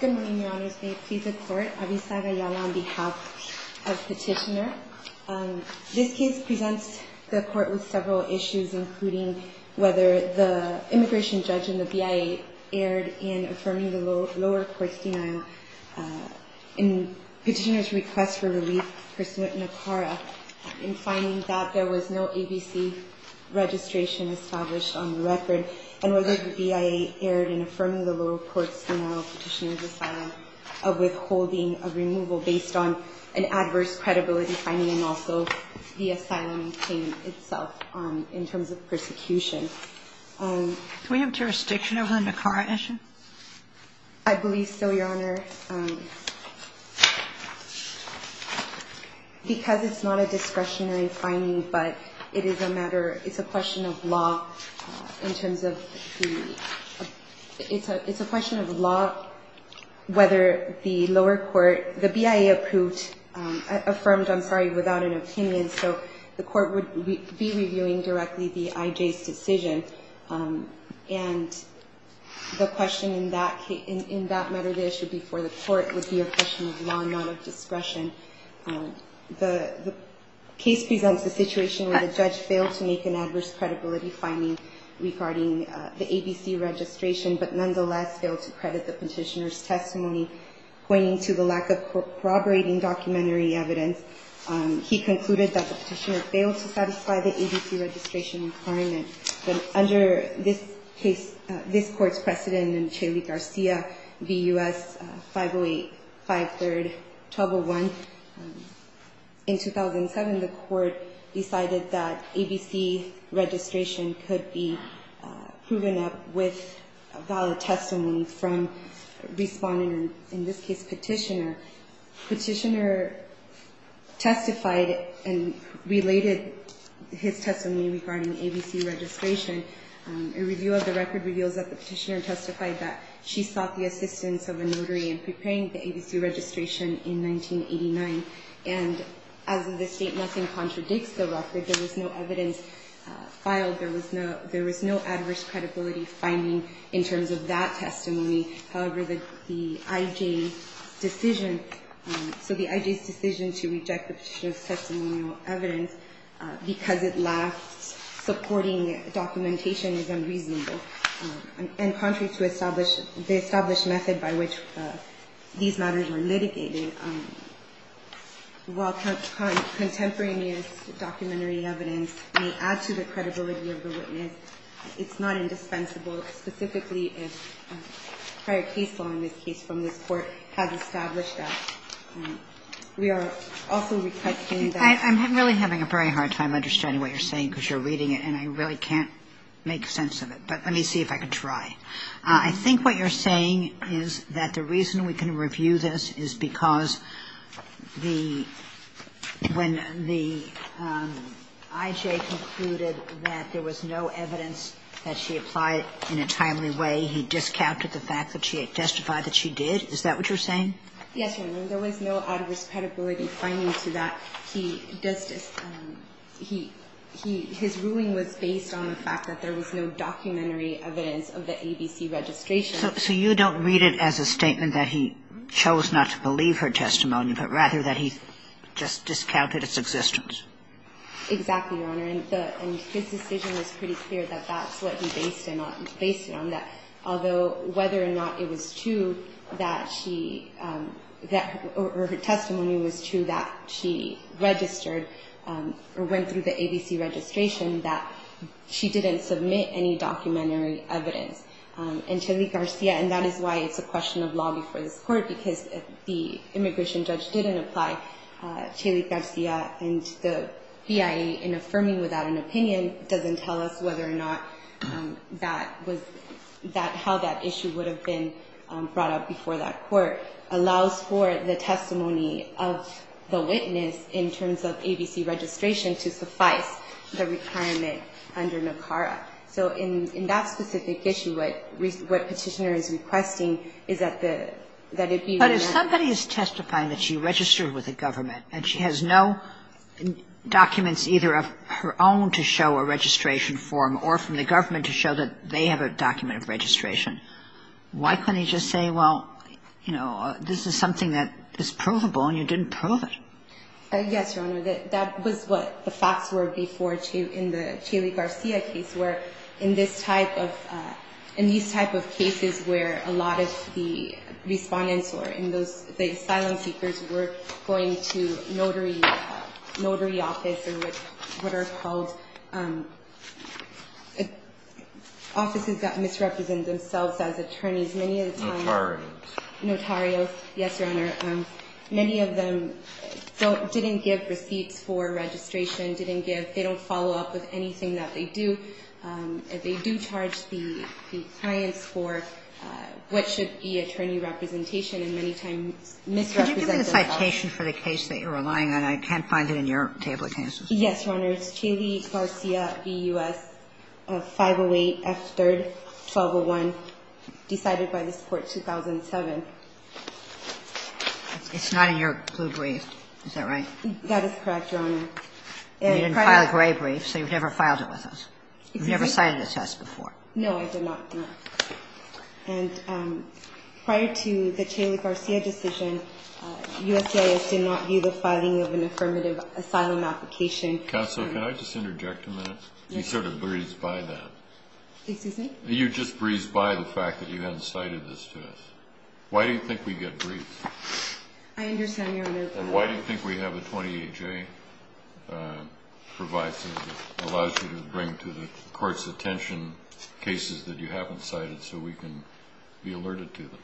Good morning, Your Honors. May it please the Court, Avisa Gayala on behalf of Petitioner. This case presents the Court with several issues, including whether the immigration judge in the BIA erred in affirming the lower courts denial in Petitioner's request for relief pursuant to ACARA in finding that there was no ABC registration established on the record, and whether the BIA erred in affirming the lower courts denial of Petitioner's asylum of withholding a removal based on an adverse credibility finding and also the asylum claim itself in terms of persecution. Do we have jurisdiction over the NACARA issue? I believe so, Your Honor. Because it's not a discretionary finding, but it is a matter, it's a question of law in terms of the, it's a question of law whether the lower court, the BIA approved, affirmed, I'm sorry, without an opinion, so the Court would be reviewing directly the IJ's decision. And the question in that matter, the issue before the Court, would be a question of law and not of discretion. The case presents a situation where the judge failed to make an adverse credibility finding regarding the ABC registration, but nonetheless failed to credit the Petitioner's testimony, pointing to the lack of corroborating documentary evidence. He concluded that the Petitioner failed to satisfy the ABC registration requirement. But under this case, this Court's precedent in Chaley-Garcia v. U.S. 508, 5-3-1201, in 2007 the Court decided that ABC registration could be proven up with valid testimony from respondent, or in this case, Petitioner. Petitioner testified and related his testimony regarding ABC registration. A review of the record reveals that the Petitioner testified that she sought the assistance of a notary in preparing the ABC registration in 1989. And as of this date, nothing contradicts the record. There was no evidence filed. There was no adverse credibility finding in terms of that testimony. However, the I.J.'s decision, so the I.J.'s decision to reject the Petitioner's testimonial evidence because it lacked supporting documentation is unreasonable. And contrary to the established method by which these matters were litigated, and while contemporaneous documentary evidence may add to the credibility of the witness, it's not indispensable, specifically if prior case law in this case from this Court has established that. We are also requesting that the Court's decision to reject the Petitioner's testimonial evidence be rejected. I just want to make one comment. When the I.J. concluded that there was no evidence that she applied in a timely way, he discounted the fact that she testified that she did? Is that what you're saying? Yes, Your Honor. There was no adverse credibility finding to that. He does just he his ruling was based on the fact that there was no documentary evidence of the ABC registration. So you don't read it as a statement that he chose not to believe her testimony, but rather that he just discounted its existence? Exactly, Your Honor. And his decision was pretty clear that that's what he based it on, that although whether or not it was true that she or her testimony was true that she registered or went through the ABC registration, that she didn't submit any documentary evidence. And Chely Garcia, and that is why it's a question of law before this Court, because if the immigration judge didn't apply, Chely Garcia and the BIE in affirming without an opinion doesn't tell us whether or not that was that how that issue would have been brought up before that Court, allows for the testimony of the witness in terms of ABC registration to suffice the requirement under NACARA. So in that specific issue, what Petitioner is requesting is that the ‑‑ But if somebody is testifying that she registered with the government and she has no documents either of her own to show a registration form or from the government to show that they have a document of registration, why couldn't he just say, well, you know, this is something that is provable and you didn't prove it? Yes, Your Honor. That was what the facts were before in the Chely Garcia case, where in this type of ‑‑ in these type of cases where a lot of the respondents or in those asylum seekers were going to notary office or what are called offices that misrepresent themselves as attorneys. Notarians. Notarios, yes, Your Honor. Many of them don't ‑‑ didn't give receipts for registration, didn't give ‑‑ they don't follow up with anything that they do. They do charge the clients for what should be attorney representation and many times misrepresent themselves. Could you give me the citation for the case that you're relying on? I can't find it in your table of cases. Yes, Your Honor. It's Chely Garcia v. U.S., 508 F. 3rd, 1201, decided by this Court 2007. It's not in your blue brief. Is that right? That is correct, Your Honor. You didn't file a gray brief, so you've never filed it with us. You've never cited the test before. No, I did not, Your Honor. And prior to the Chely Garcia decision, USCIS did not view the filing of an affirmative asylum application. Counsel, can I just interject a minute? You sort of breezed by that. Excuse me? You just breezed by the fact that you hadn't cited this to us. Why do you think we get breezed? I understand, Your Honor. And why do you think we have a 28-J provision that allows you to bring to the Court's attention cases that you haven't cited so we can be alerted to them?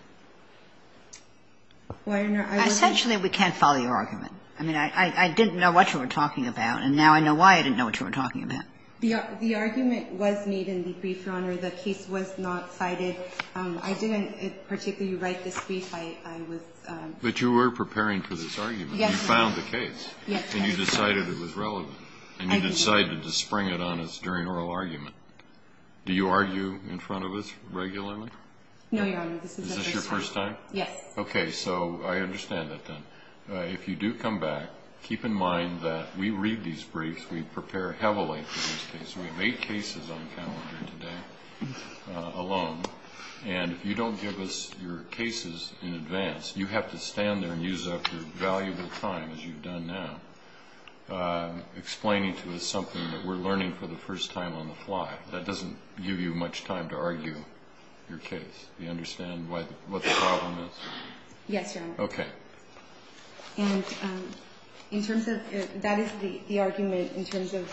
Well, Your Honor, I was going to say. Essentially, we can't follow your argument. I mean, I didn't know what you were talking about, and now I know why I didn't know what you were talking about. The argument was made in the brief, Your Honor. The case was not cited. I didn't particularly write this brief. I was ‑‑ But you were preparing for this argument. Yes. You found the case. Yes. And you decided it was relevant. I did. And you decided to spring it on us during oral argument. Do you argue in front of us regularly? No, Your Honor. Is this your first time? Yes. Okay. So I understand that then. If you do come back, keep in mind that we read these briefs. We prepare heavily for these cases. We have eight cases on the calendar today alone. And if you don't give us your cases in advance, you have to stand there and use up your valuable time, as you've done now, explaining to us something that we're learning for the first time on the fly. That doesn't give you much time to argue your case. Do you understand what the problem is? Yes, Your Honor. Okay. And that is the argument in terms of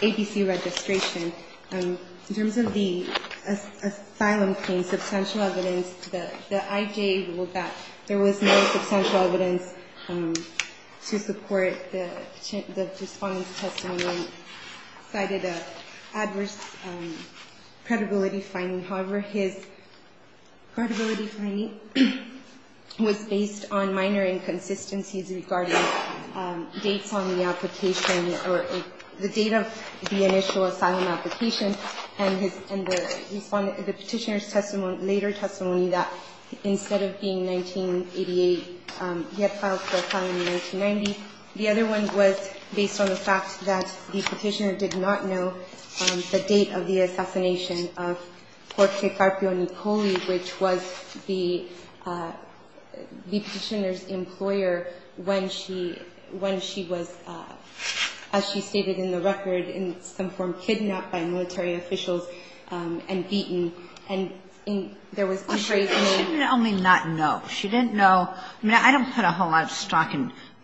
ABC registration. In terms of the asylum claim, substantial evidence that I gave was that there was no substantial evidence to support the minor inconsistencies regarding dates on the application or the date of the initial asylum application. And the Petitioner's testimony, later testimony, that instead of being 1988, he had filed for asylum in 1990. The other one was based on the fact that the Petitioner did not know the date of the assassination of Jorge Carpio Nicoli, which was the Petitioner's employer when she was, as she stated in the record, in some form kidnapped by military officials and beaten. And there was a phrase named ñ Well, she didn't only not know. She didn't know. I mean, I don't put a whole lot of stock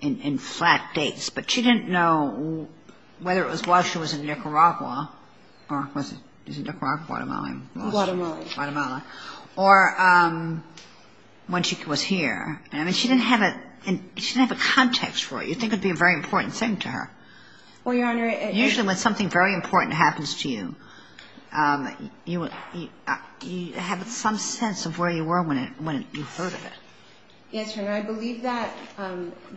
in flat dates, but she didn't know whether it was while she was in Nicaragua, or was it Nicaragua, Guatemala? Guatemala. Guatemala. Or when she was here. I mean, she didn't have a context for it. You'd think it would be a very important thing to her. Well, Your Honor, it is. Usually when something very important happens to you, you have some sense of where you were when you heard of it. Yes, Your Honor. I believe that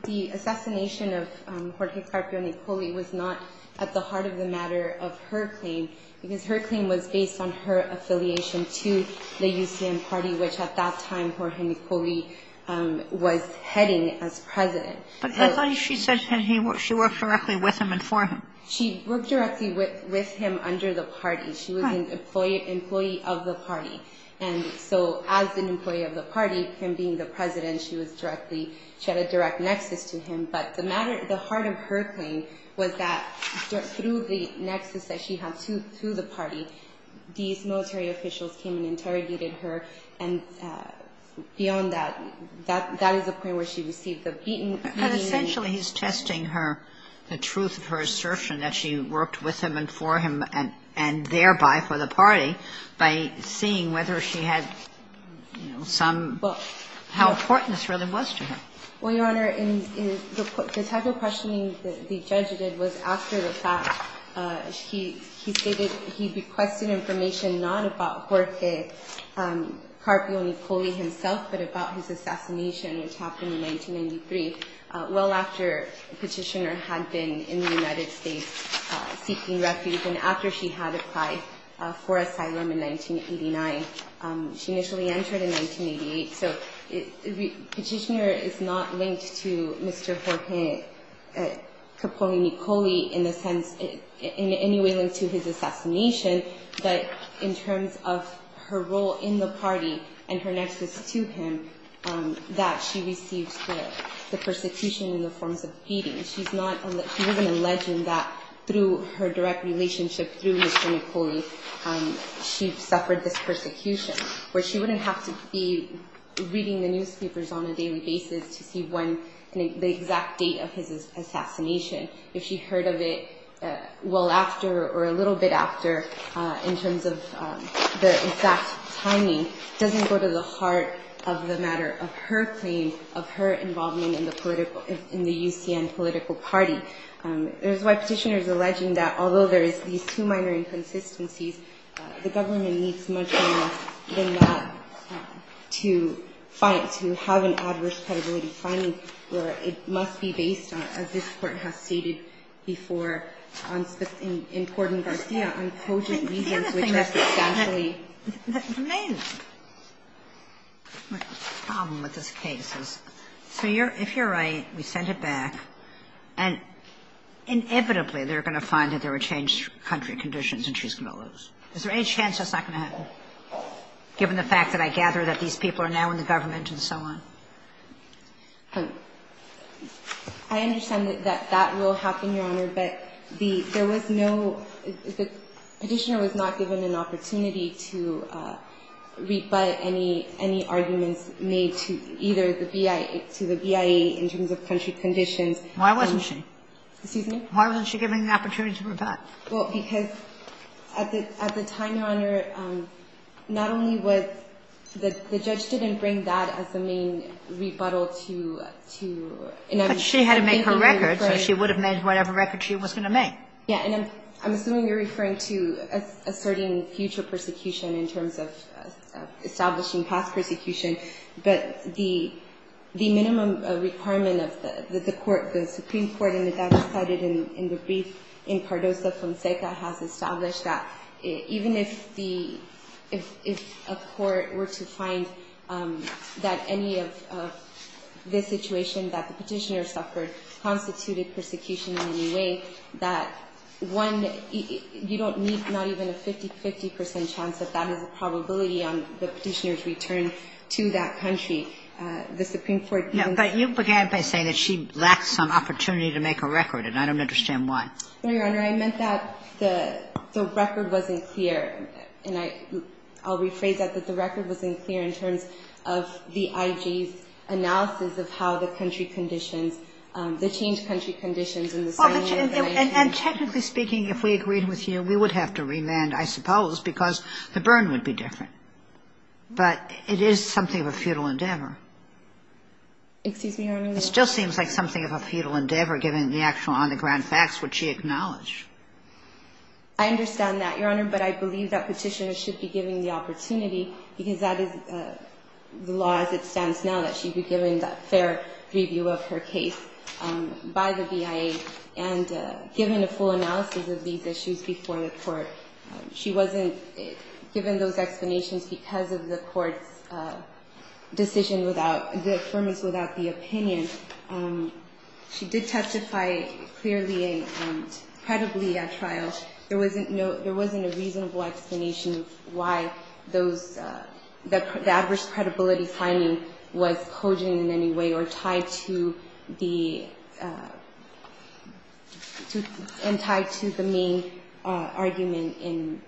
the assassination of Jorge Carpio Nicoli was not at the heart of the matter of her claim because her claim was based on her affiliation to the UCM party, which at that time Jorge Nicoli was heading as president. But I thought she said she worked directly with him and for him. She worked directly with him under the party. She was an employee of the party. And so as an employee of the party, him being the president, she was directly ñ she had a direct nexus to him. But the matter ñ the heart of her claim was that through the nexus that she had to the party, these military officials came and interrogated her. And beyond that, that is the point where she received the beaten ñ But essentially he's testing her ñ the truth of her assertion that she worked with him and for him and thereby for the party by seeing whether she had some ñ how important this really was to her. Well, Your Honor, the type of questioning that the judge did was after the fact. He stated he requested information not about Jorge Carpio Nicoli himself, but about his assassination, which happened in 1993, well after Petitioner had been in the United States seeking refuge and after she had applied for asylum in 1989. She initially entered in 1988. So Petitioner is not linked to Mr. Jorge Carpio Nicoli in the sense ñ in any way linked to his assassination, but in terms of her role in the party and her nexus to him, that she received the persecution in the forms of beating. She's not ñ he was alleging that through her direct relationship through Mr. Nicoli, she suffered this persecution, where she wouldn't have to be reading the newspapers on a daily basis to see when the exact date of his assassination, if she heard of it well after or a little bit after in terms of the exact timing, doesn't go to the heart of the matter of her claim of her involvement in the UCN political party. And there's why Petitioner is alleging that although there is these two minor inconsistencies, the government needs much more than that to find ñ to have an adverse credibility finding where it must be based on, as this Court has stated before in Corden-Garcia, on cogent reasons which are substantially ñ My problem with this case is, so you're ñ if you're right, we send it back, and inevitably they're going to find that there were changed country conditions and she's going to lose. Is there any chance that's not going to happen, given the fact that I gather that these people are now in the government and so on? I understand that that will happen, Your Honor, but the ñ there was no ñ Petitioner was not given an opportunity to rebut any arguments made to either the BIA ñ to the BIA in terms of country conditions. Why wasn't she? Excuse me? Why wasn't she given the opportunity to rebut? Well, because at the time, Your Honor, not only was ñ the judge didn't bring that as the main rebuttal to ñ But she had to make her record, so she would have made whatever record she was going to make. Yeah, and I'm assuming you're referring to asserting future persecution in terms of establishing past persecution. But the minimum requirement of the court, the Supreme Court, and the judge cited in the brief in Cardoso-Fonseca, has established that even if the ñ if a court were to find that any of the situation that the petitioner suffered constituted persecution in any way, that one ñ you don't need not even a 50-50 percent chance that that is a probability on the petitioner's return to that country. The Supreme Court didn't ñ No, but you began by saying that she lacked some opportunity to make a record, and I don't understand why. No, Your Honor. I meant that the record wasn't clear, and I ñ I'll rephrase that, that the record wasn't clear in terms of the IG's analysis of how the country conditions ñ the changed country conditions in the same ñ And technically speaking, if we agreed with you, we would have to remand, I suppose, because the burn would be different. But it is something of a futile endeavor. Excuse me, Your Honor. It still seems like something of a futile endeavor, given the actual on-the-ground facts which she acknowledged. I understand that, Your Honor, but I believe that petitioner should be given the opportunity because that is the law as it stands now, that she be given that fair review of her case by the BIA and given a full analysis of these issues before the court. She wasn't given those explanations because of the court's decision without ñ the affirmance without the opinion. She did testify clearly and credibly at trial. There wasn't no ñ there wasn't a reasonable explanation of why those ñ the adverse credibility finding was cogent in any way or tied to the ñ and tied to the main argument in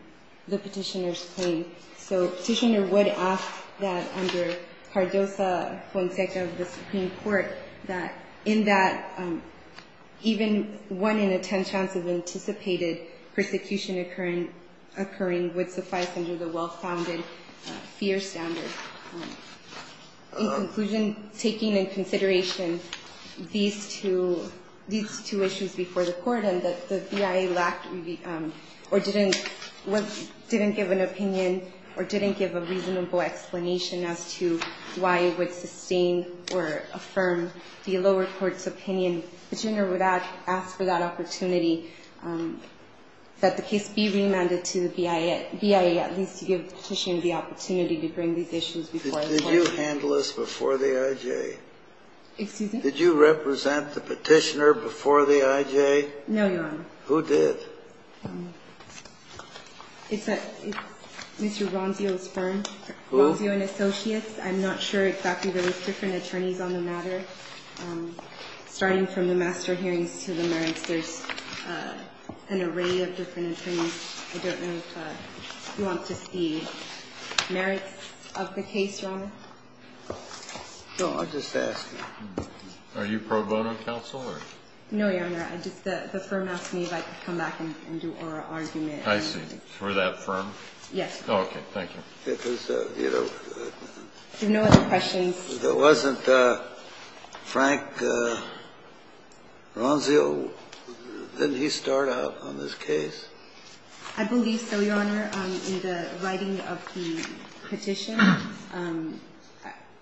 the petitioner's claim. So petitioner would ask that under Cardoza-Fonseca of the Supreme Court that in that even one in a ten chance of anticipated persecution occurring would suffice under the well-founded fear standard. In conclusion, taking in consideration these two ñ these two issues before the court and that the BIA lacked or didn't ñ didn't give an opinion or didn't give a reasonable explanation as to why it would sustain or affirm the lower court's opinion, the petitioner would ask for that opportunity that the case be remanded to the BIA, at least to give the petitioner the opportunity to bring these issues before the court. Kennedy. Did you handle this before the I.J.? Excuse me? Did you represent the petitioner before the I.J.? No, Your Honor. Who did? It's a ñ it's Mr. Ronzio's firm. Who? Ronzio and Associates. I'm not sure exactly. There was different attorneys on the matter. Starting from the master hearings to the merits, there's an array of different attorneys. I don't know if you want to see merits of the case, Your Honor. No, I'll just ask. Are you pro bono counsel or? No, Your Honor. I just ñ the firm asked me if I could come back and do oral argument. I see. For that firm? Yes. Thank you. Because, you know ñ No other questions. There wasn't a Frank Ronzio? Didn't he start out on this case? I believe so, Your Honor. In the writing of the petition,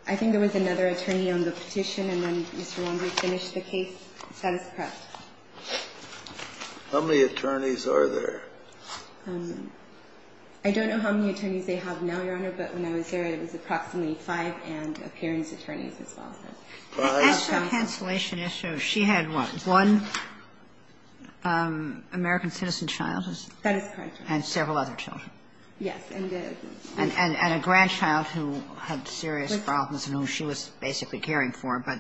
I think there was another attorney on the petition and then Mr. Ronzio finished the case. Status quo. How many attorneys are there? I don't know how many attorneys they have now, Your Honor, but when I was there, it was approximately five and appearance attorneys as well. Can I ask you a cancellation issue? She had what? One American citizen child? That is correct, Your Honor. And several other children. Yes. And a grandchild who had serious problems and who she was basically caring for, but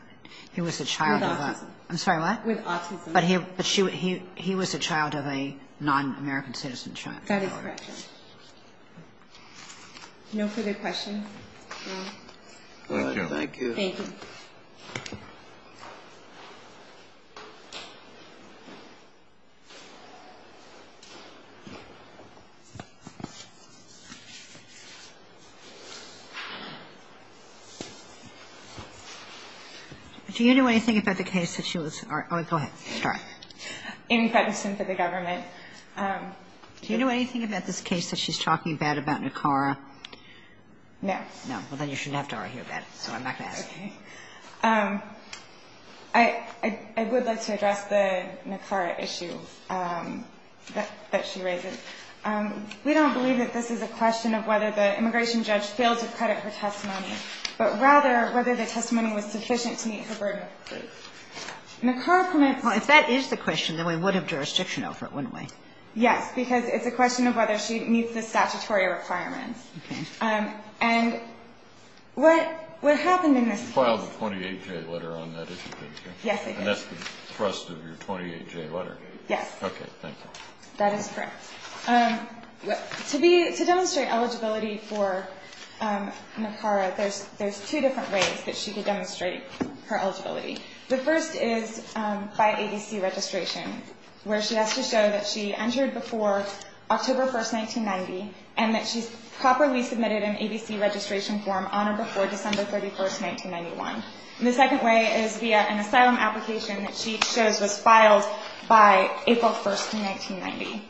he was a child of a ñ With autism. I'm sorry, what? With autism. But he was a child of a non-American citizen child. That is correct, Your Honor. No further questions? No. Thank you. Thank you. Thank you. Do you know anything about the case that she was ñ oh, go ahead. Sorry. Amy Patterson for the government. Do you know anything about this case that she's talking about, about NACARA? No. No. Well, then you shouldn't have to argue about it, so I'm not going to ask you. Okay. I would like to address the NACARA issue that she raises. We don't believe that this is a question of whether the immigration judge failed to credit her testimony, but rather whether the testimony was sufficient to meet her burden. NACARA permits ñ Well, if that is the question, then we would have jurisdiction over it, wouldn't we? Yes, because it's a question of whether she meets the statutory requirements. Okay. And what happened in this case ñ You filed a 28-J letter on that issue, didn't you? Yes, I did. And that's the thrust of your 28-J letter? Yes. Okay. Thank you. That is correct. To demonstrate eligibility for NACARA, there's two different ways that she could demonstrate her eligibility. The first is by ABC registration, where she has to show that she entered before October 1, 1990, and that she properly submitted an ABC registration form on or before December 31, 1991. And the second way is via an asylum application that she shows was filed by April 1, 1990.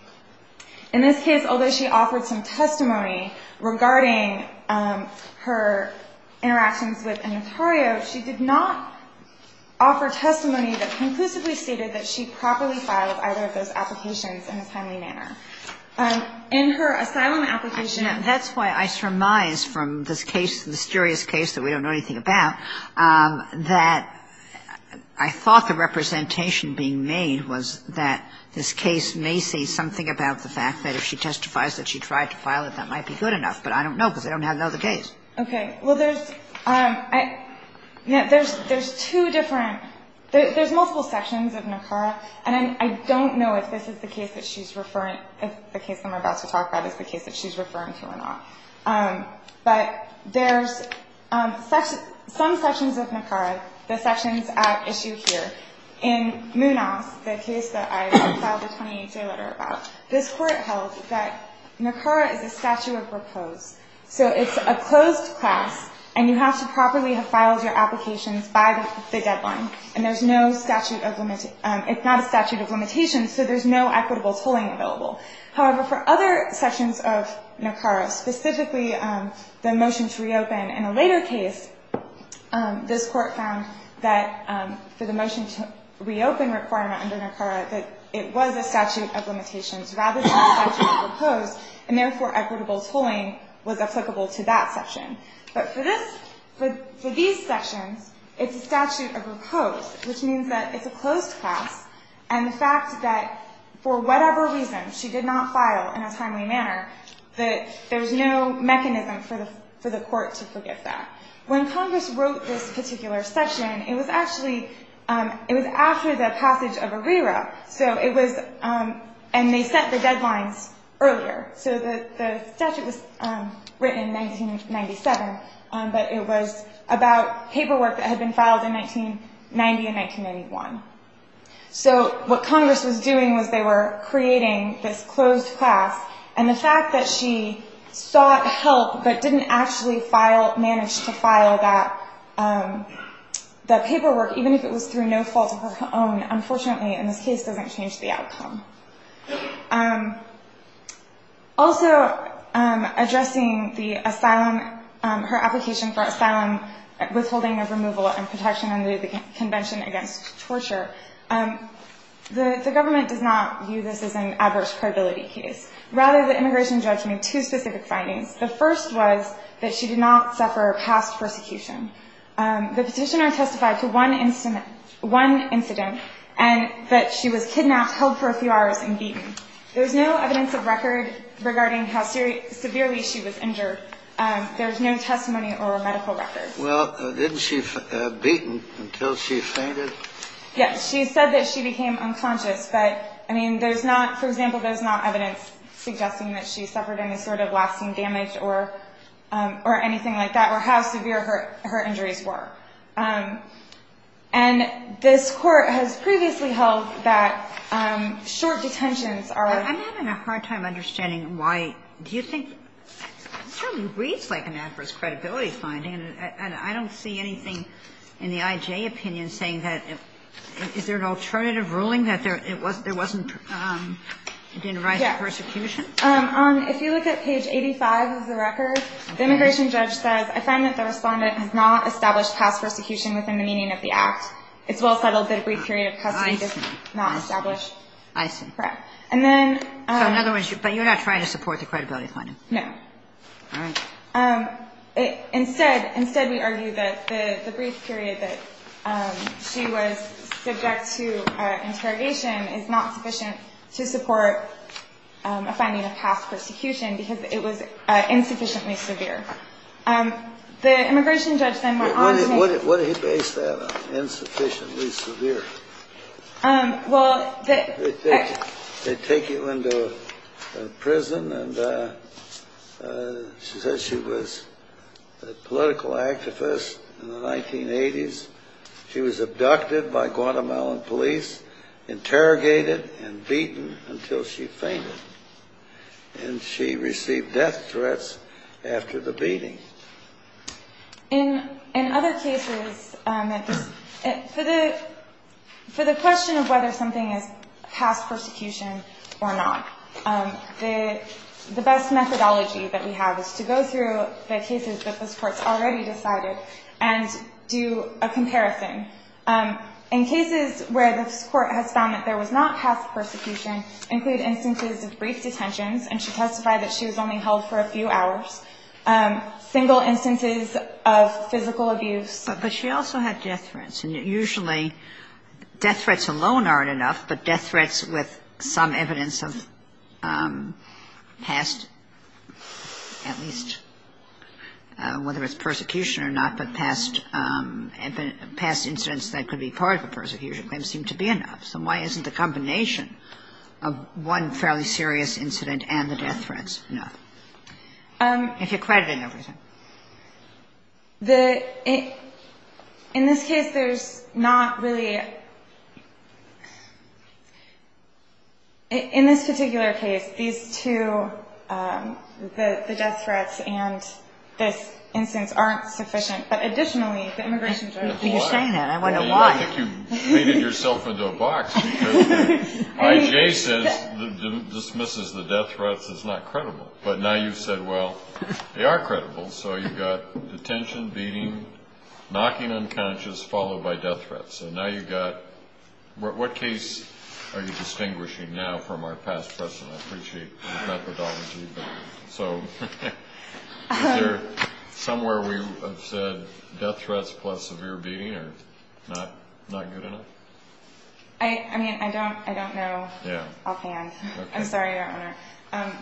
In this case, although she offered some testimony regarding her interactions with Notario, she did not offer testimony that conclusively stated that she properly filed either of those applications in a timely manner. In her asylum application ñ That's why I surmise from this case, the mysterious case that we don't know anything about, that I thought the representation being made was that this case may say something about the fact that if she testifies that she tried to file it, that might be good enough. But I don't know because I don't have another case. Okay. Well, there's ñ there's two different ñ there's multiple sections of NACARA. And I don't know if this is the case that she's referring ñ if the case I'm about to talk about is the case that she's referring to or not. But there's some sections of NACARA, the sections at issue here. In Munas, the case that I filed a 28-day letter about, this Court held that NACARA is a statute of repose. So it's a closed class, and you have to properly have filed your applications by the deadline. And there's no statute of ñ it's not a statute of limitations, so there's no equitable tolling available. However, for other sections of NACARA, specifically the motion to reopen, in a later case, this Court found that for the motion to reopen requirement under NACARA, that it was a statute of limitations rather than a statute of repose, and therefore equitable tolling was applicable to that section. But for this ñ for these sections, it's a statute of repose, which means that it's a closed class. And the fact that for whatever reason she did not file in a timely manner, that there's no mechanism for the ñ for the Court to forgive that. When Congress wrote this particular section, it was actually ñ it was after the passage of ARERA. So it was ñ and they set the deadlines earlier. So the statute was written in 1997, but it was about paperwork that had been filed in 1990 and 1991. So what Congress was doing was they were creating this closed class, and the fact that she sought help but didn't actually file ñ manage to file that paperwork, even if it was through no fault of her own, unfortunately, in this case, doesn't change the outcome. Also, addressing the asylum ñ her application for asylum, withholding of removal and protection under the Convention Against Torture, the government does not view this as an adverse credibility case. Rather, the immigration judge made two specific findings. The first was that she did not suffer past persecution. The petitioner testified to one incident ñ one incident, and that she was kidnapped, held for a few hours, and beaten. There's no evidence of record regarding how severely she was injured. There's no testimony or medical record. Well, didn't she be beaten until she fainted? Yes. She said that she became unconscious, but, I mean, there's not ñ for example, there's not evidence suggesting that she suffered any sort of lasting damage or anything like that, or how severe her injuries were. And this Court has previously held that short detentions are ñ I'm having a hard time understanding why ñ do you think ñ it certainly reads like an adverse credibility finding, and I don't see anything in the I.J. opinion saying that ñ is there an alternative ruling that there wasn't ñ it didn't rise to persecution? Yes. On ñ if you look at page 85 of the record, the immigration judge says, ìI find that the Respondent has not established past persecution within the meaning of the Act.î It's well settled that a brief period of custody is not established. I see. Correct. And then ñ So in other words, but you're not trying to support the credibility finding. No. All right. Instead, we argue that the brief period that she was subject to interrogation is not sufficient to support a finding of past persecution because it was insufficiently severe. The immigration judge then went on to make ñ What did he base that on, insufficiently severe? Well, the ñ They take you into a prison, and she says she was a political activist in the 1980s. She was abducted by Guatemalan police, interrogated and beaten until she fainted. And she received death threats after the beating. In other cases, for the question of whether something is past persecution or not, the best methodology that we have is to go through the cases that this Court's already decided and do a comparison. In cases where this Court has found that there was not past persecution include instances of brief detentions, and she testified that she was only held for a few hours, single instances of physical abuse. But she also had death threats. And usually death threats alone aren't enough, but death threats with some evidence of past, at least whether it's persecution or not, but past incidents that could be part of a persecution claim seem to be enough. So why isn't the combination of one fairly serious incident and the death threats enough? If you're crediting everything. In this case, there's not really – in this particular case, these two, the death threats and this instance, aren't sufficient. But additionally, the immigration judge – You're saying that. I wonder why. I think you've faded yourself into a box because I.J. says, dismisses the death threats as not credible. But now you've said, well, they are credible. So you've got detention, beating, knocking unconscious, followed by death threats. So now you've got – what case are you distinguishing now from our past precedent? I appreciate the methodology. So is there somewhere we have said death threats plus severe beating are not good enough? I mean, I don't know offhand. I'm sorry, Your Honor.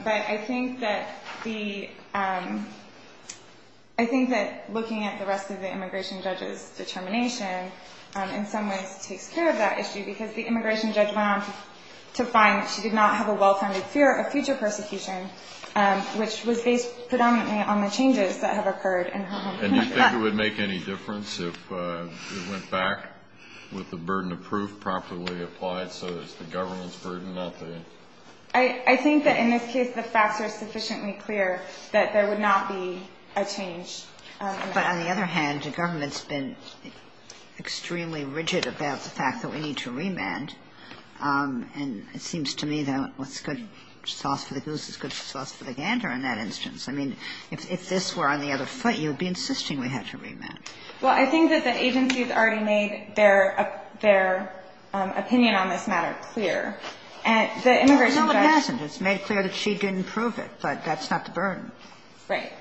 But I think that the – I think that looking at the rest of the immigration judge's determination in some ways takes care of that issue because the immigration judge went on to find that she did not have a well-founded fear of future persecution, which was based predominantly on the changes that have occurred in her home country. And you think it would make any difference if it went back with the burden of proof properly applied I think that in this case, the facts are sufficiently clear that there would not be a change. But on the other hand, the government's been extremely rigid about the fact that we need to remand. And it seems to me that what's good sauce for the goose is good sauce for the gander in that instance. I mean, if this were on the other foot, you'd be insisting we had to remand. Well, I think that the agency has already made their opinion on this matter clear. And the immigration judge – No, it hasn't. It's made clear that she didn't prove it, but that's not the burden. Right.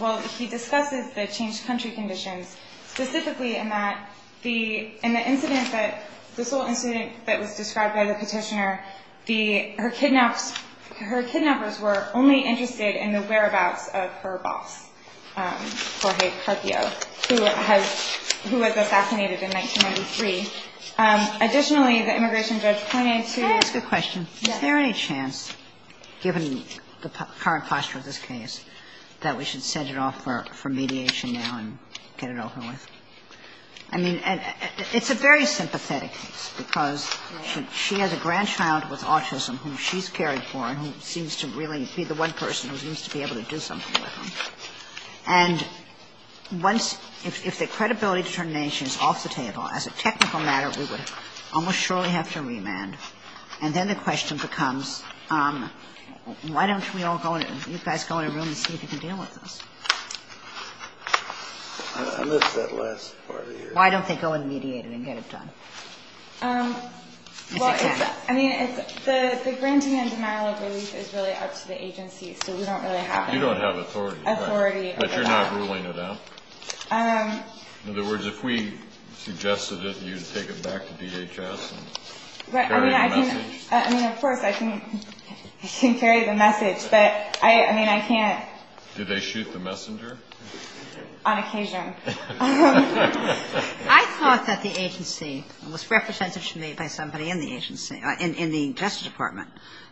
Well, he discusses the changed country conditions specifically in that the – in the incident that – this whole incident that was described by the Petitioner, the – her kidnappers were only interested in the whereabouts of her boss, Jorge Carquio, who has – who was assassinated in 1993. Additionally, the immigration judge pointed to – Can I ask a question? Yes. Is there any chance, given the current posture of this case, that we should set it off for mediation now and get it over with? I mean, it's a very sympathetic case because she has a grandchild with autism whom she's cared for and who seems to really be the one person who seems to be able to do something with him. And once – if the credibility determination is off the table, as a technical matter, we would almost surely have to remand. And then the question becomes, why don't we all go in – you guys go in a room and see if you can deal with this? I missed that last part of your question. Why don't they go and mediate it and get it done? Well, it's – I mean, it's – the granting and denial of relief is really up to the agency, so we don't really have authority. But you're not ruling it out? In other words, if we suggested it, you'd take it back to DHS and carry the message? I mean, of course I can – I can carry the message, but I – I mean, I can't. Do they shoot the messenger? On occasion. I thought that the agency – it was representation made by somebody in the agency – in the Justice Department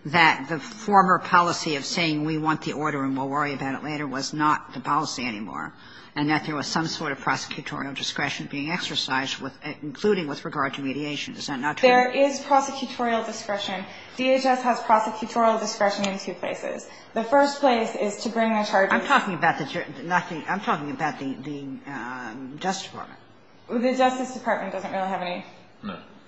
that the former policy of saying we want the order and we'll worry about it later was not the policy anymore, and that there was some sort of prosecutorial discretion being exercised, including with regard to mediation. Is that not true? There is prosecutorial discretion. DHS has prosecutorial discretion in two places. The first place is to bring the charges. I'm talking about the – I'm talking about the Justice Department. The Justice Department doesn't really have any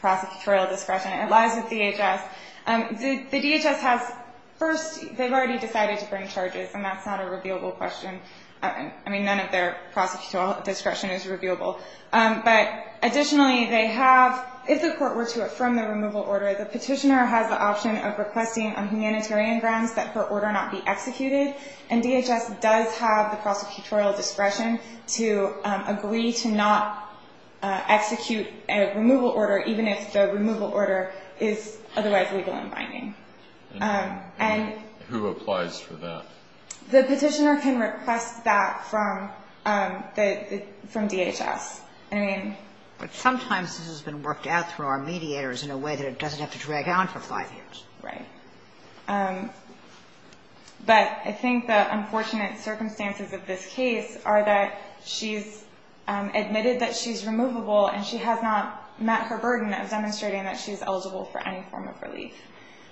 prosecutorial discretion. It lies with DHS. The DHS has – first, they've already decided to bring charges, and that's not a reviewable question. I mean, none of their prosecutorial discretion is reviewable. But additionally, they have – if the court were to affirm the removal order, the petitioner has the option of requesting on humanitarian grounds that her order not be executed, and DHS does have the prosecutorial discretion to agree to not execute a removal order, even if the removal order is otherwise legal and binding. And who applies for that? The petitioner can request that from the – from DHS. I mean – But sometimes this has been worked out through our mediators in a way that it doesn't have to drag on for five years. Right. But I think the unfortunate circumstances of this case are that she's admitted that she's removable and she has not met her burden of demonstrating that she's eligible for any form of relief.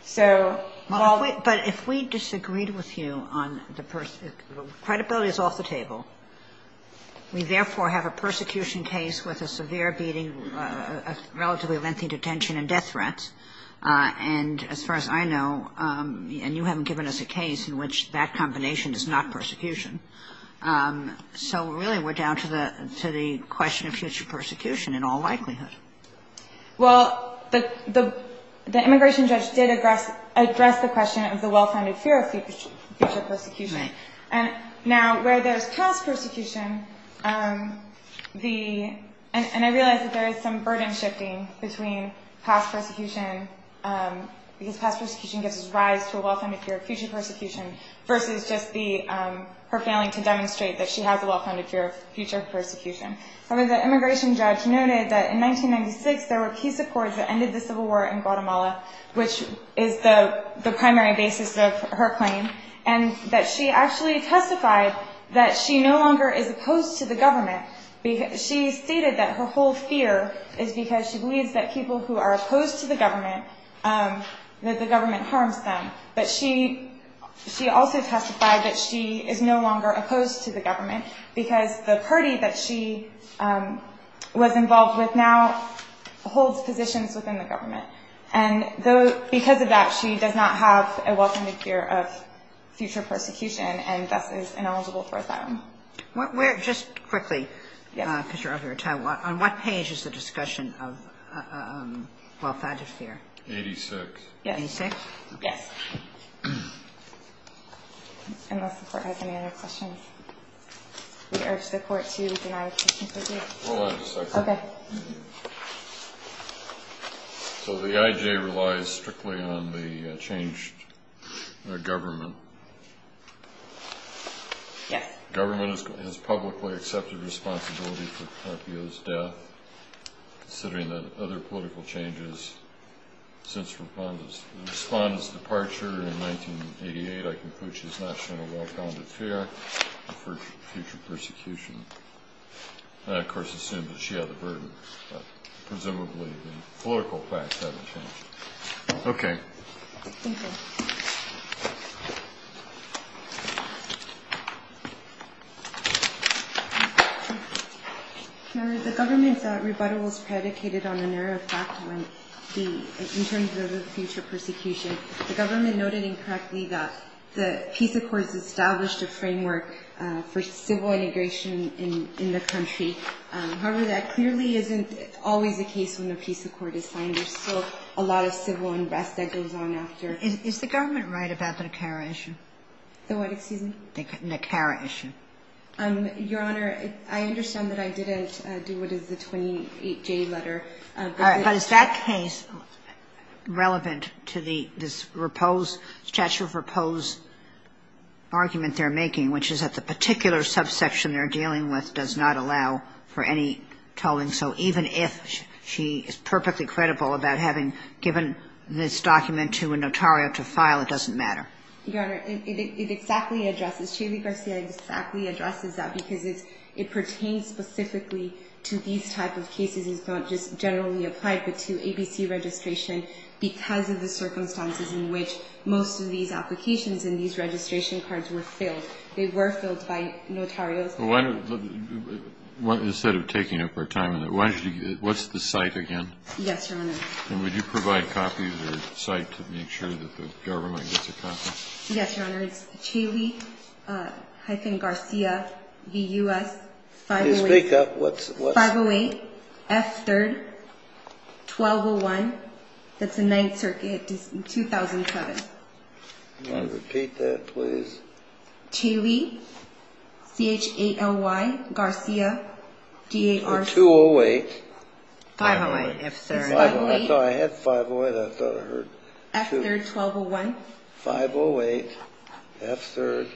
So while – But if we disagreed with you on the – credibility is off the table. We therefore have a persecution case with a severe beating, a relatively lengthy detention and death threat. And as far as I know – and you haven't given us a case in which that combination is not persecution. So really we're down to the question of future persecution in all likelihood. Well, the immigration judge did address the question of the well-founded fear of future persecution. Right. And now where there's past persecution, the – and I realize that there is some burden shifting between past persecution because past persecution gives us rise to a well-founded fear of future persecution versus just the – her failing to demonstrate that she has a well-founded fear of future persecution. However, the immigration judge noted that in 1996 there were peace accords that ended the civil war in Guatemala, which is the primary basis of her claim, and that she actually testified that she no longer is opposed to the government. She stated that her whole fear is because she believes that people who are opposed to the government, that the government harms them. But she also testified that she is no longer opposed to the government because the party that she was involved with now holds positions within the government. And because of that, she does not have a well-founded fear of future persecution and thus is ineligible for asylum. Just quickly, because you're out of your time, on what page is the discussion of well-founded fear? 86. 86? Yes. Unless the court has any other questions. We urge the court to deny the case. Hold on a second. Okay. So the IJ relies strictly on the changed government. Yes. The government has publicly accepted responsibility for Carpio's death, considering that other political changes since Respondent's departure in 1988, I conclude she has not shown a well-founded fear of future persecution. I, of course, assume that she had the burden, but presumably the political facts haven't changed. Okay. Thank you. Thank you. Madam, the government's rebuttal was predicated on the narrow fact in terms of the future persecution. The government noted incorrectly that the peace accords established a framework for civil integration in the country. However, that clearly isn't always the case when a peace accord is signed. There's still a lot of civil unrest that goes on after. Madam, is the government right about the Nicara issue? The what, excuse me? The Nicara issue. Your Honor, I understand that I didn't do what is the 28J letter. But is that case relevant to this statute of repose argument they're making, which is that the particular subsection they're dealing with does not allow for any tolling? So even if she is perfectly credible about having given this document to a notario to file, it doesn't matter? Your Honor, it exactly addresses, Shaley Garcia exactly addresses that because it pertains specifically to these type of cases. It's not just generally applied, but to ABC registration because of the circumstances in which most of these applications and these registration cards were filled. They were filled by notarios. Instead of taking up our time, what's the site again? Yes, Your Honor. And would you provide copies of the site to make sure that the government gets a copy? Yes, Your Honor. It's Shaley-Garcia-V-U-S-508-F3-1201. That's the Ninth Circuit, 2007. Can you repeat that, please? Shaley-Garcia-V-U-S-508-F3-1201. I thought I had 508. I thought I heard 2. F3-1201. 508. F3.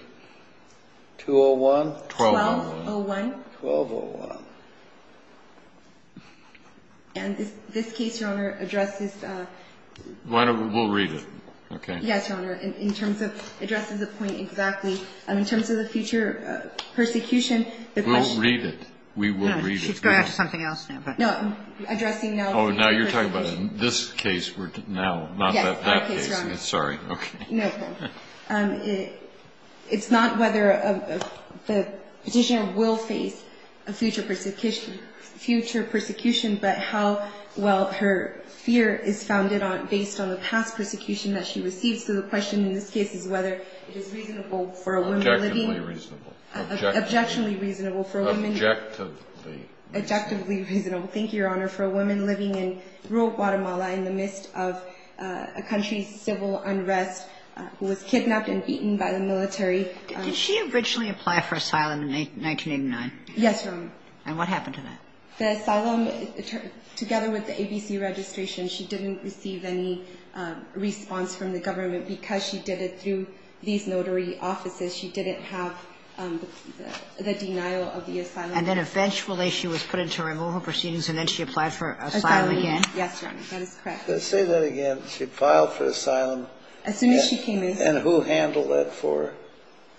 201. 1201. And this case, Your Honor, addresses the point exactly. We'll read it, okay? Yes, Your Honor. It addresses the point exactly. In terms of the future persecution. We'll read it. We will read it. She's going after something else now. No. Addressing now. Oh, now you're talking about this case now, not that case. Yes, that case, Your Honor. Sorry. Okay. No. It's not whether the Petitioner will face a future persecution, but how well her fear is founded on based on the past persecution that she receives. So the question in this case is whether it is reasonable for a woman living. Objectively reasonable. Objectively. Objectively reasonable for a woman. Objectively. Objectively reasonable. Thank you, Your Honor, for a woman living in rural Guatemala in the midst of a country's civil unrest who was kidnapped and beaten by the military. Did she originally apply for asylum in 1989? Yes, Your Honor. And what happened to that? The asylum, together with the ABC registration, she didn't receive any response from the government. Because she did it through these notary offices, she didn't have the denial of the asylum. And then eventually she was put into removal proceedings, and then she applied for asylum again? Yes, Your Honor. That is correct. Say that again. She filed for asylum. As soon as she came in. And who handled that for her?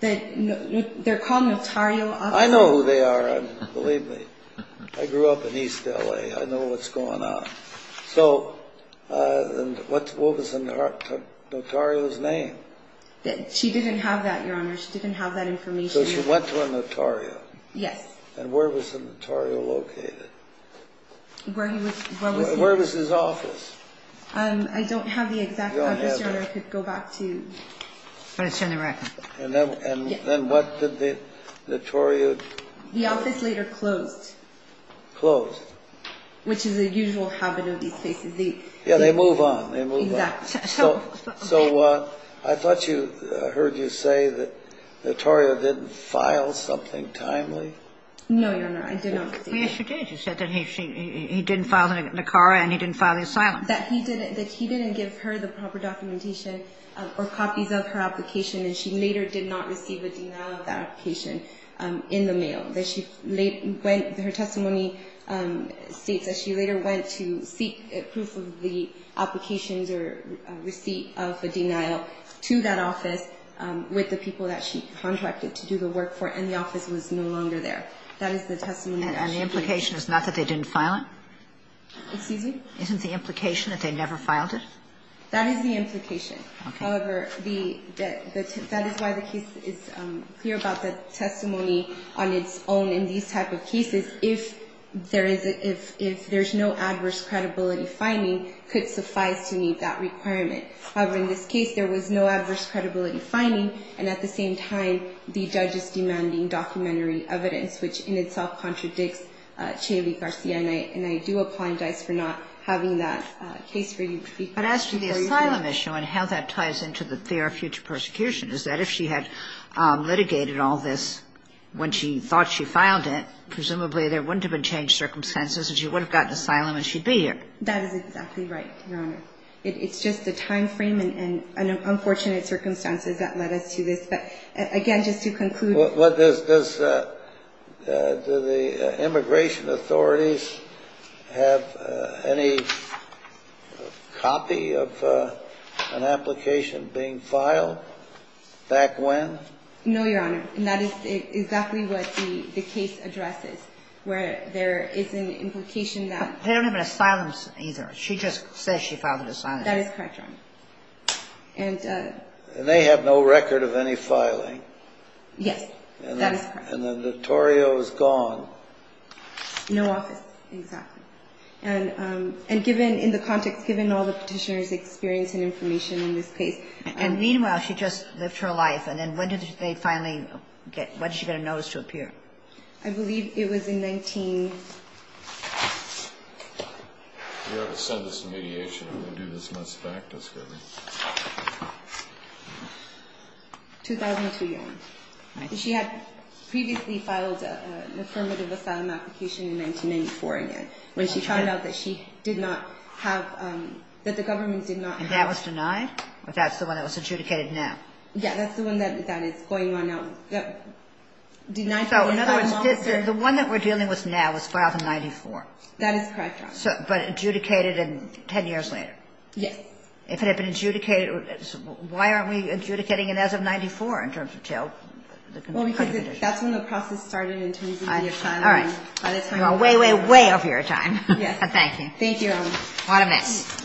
They're called notarial offices. I know who they are. Believe me. I grew up in East L.A. I know what's going on. So what was the notarial's name? She didn't have that, Your Honor. She didn't have that information. So she went to a notarial. Yes. And where was the notarial located? Where he was... Where was his office? I don't have the exact address, Your Honor. I could go back to... But it's in the record. And then what did the notarial... The office later closed. Closed. Which is a usual habit of these cases. Yeah, they move on. Exactly. So I thought I heard you say that Notaria didn't file something timely. No, Your Honor. I did not. Yes, she did. She said that he didn't file the NACARA and he didn't file the asylum. That he didn't give her the proper documentation or copies of her application, and she later did not receive a denial of that application in the mail. Her testimony states that she later went to seek proof of the applications or receipt of a denial to that office with the people that she contracted to do the work for, and the office was no longer there. That is the testimony that she gave. And the implication is not that they didn't file it? Excuse me? Isn't the implication that they never filed it? That is the implication. Okay. However, that is why the case is clear about the testimony on its own in these type of cases. If there is no adverse credibility finding, it could suffice to meet that requirement. However, in this case, there was no adverse credibility finding, and at the same time, the judge is demanding documentary evidence, which in itself contradicts Cheney Garcia. And I do apologize for not having that case for you to speak on. But as to the asylum issue and how that ties into the fear of future persecution, is that if she had litigated all this when she thought she filed it, presumably there wouldn't have been changed circumstances and she would have gotten asylum and she'd be here? That is exactly right, Your Honor. It's just the time frame and unfortunate circumstances that led us to this. But, again, just to conclude. Does the immigration authorities have any copy of an application being filed back when? No, Your Honor. And that is exactly what the case addresses, where there is an implication that they don't have an asylum either. She just says she filed an asylum. That is correct, Your Honor. And they have no record of any filing? Yes. That is correct. And the notario is gone? No office, exactly. And given in the context, given all the petitioner's experience and information in this case. And meanwhile, she just lived her life. And then when did they finally get her notice to appear? I believe it was in 19- You have a sentence in mediation. 2002, Your Honor. She had previously filed an affirmative asylum application in 1994, again, when she found out that she did not have, that the government did not have- And that was denied? That's the one that was adjudicated now? Yes, that's the one that is going on now. So, in other words, the one that we're dealing with now was filed in 94? That is correct, Your Honor. But adjudicated 10 years later? Yes. If it had been adjudicated, why aren't we adjudicating it as of 94 in terms of jail? Well, because that's when the process started in terms of your time. All right. You are way, way, way over your time. Thank you. Thank you, Your Honor. What a mess.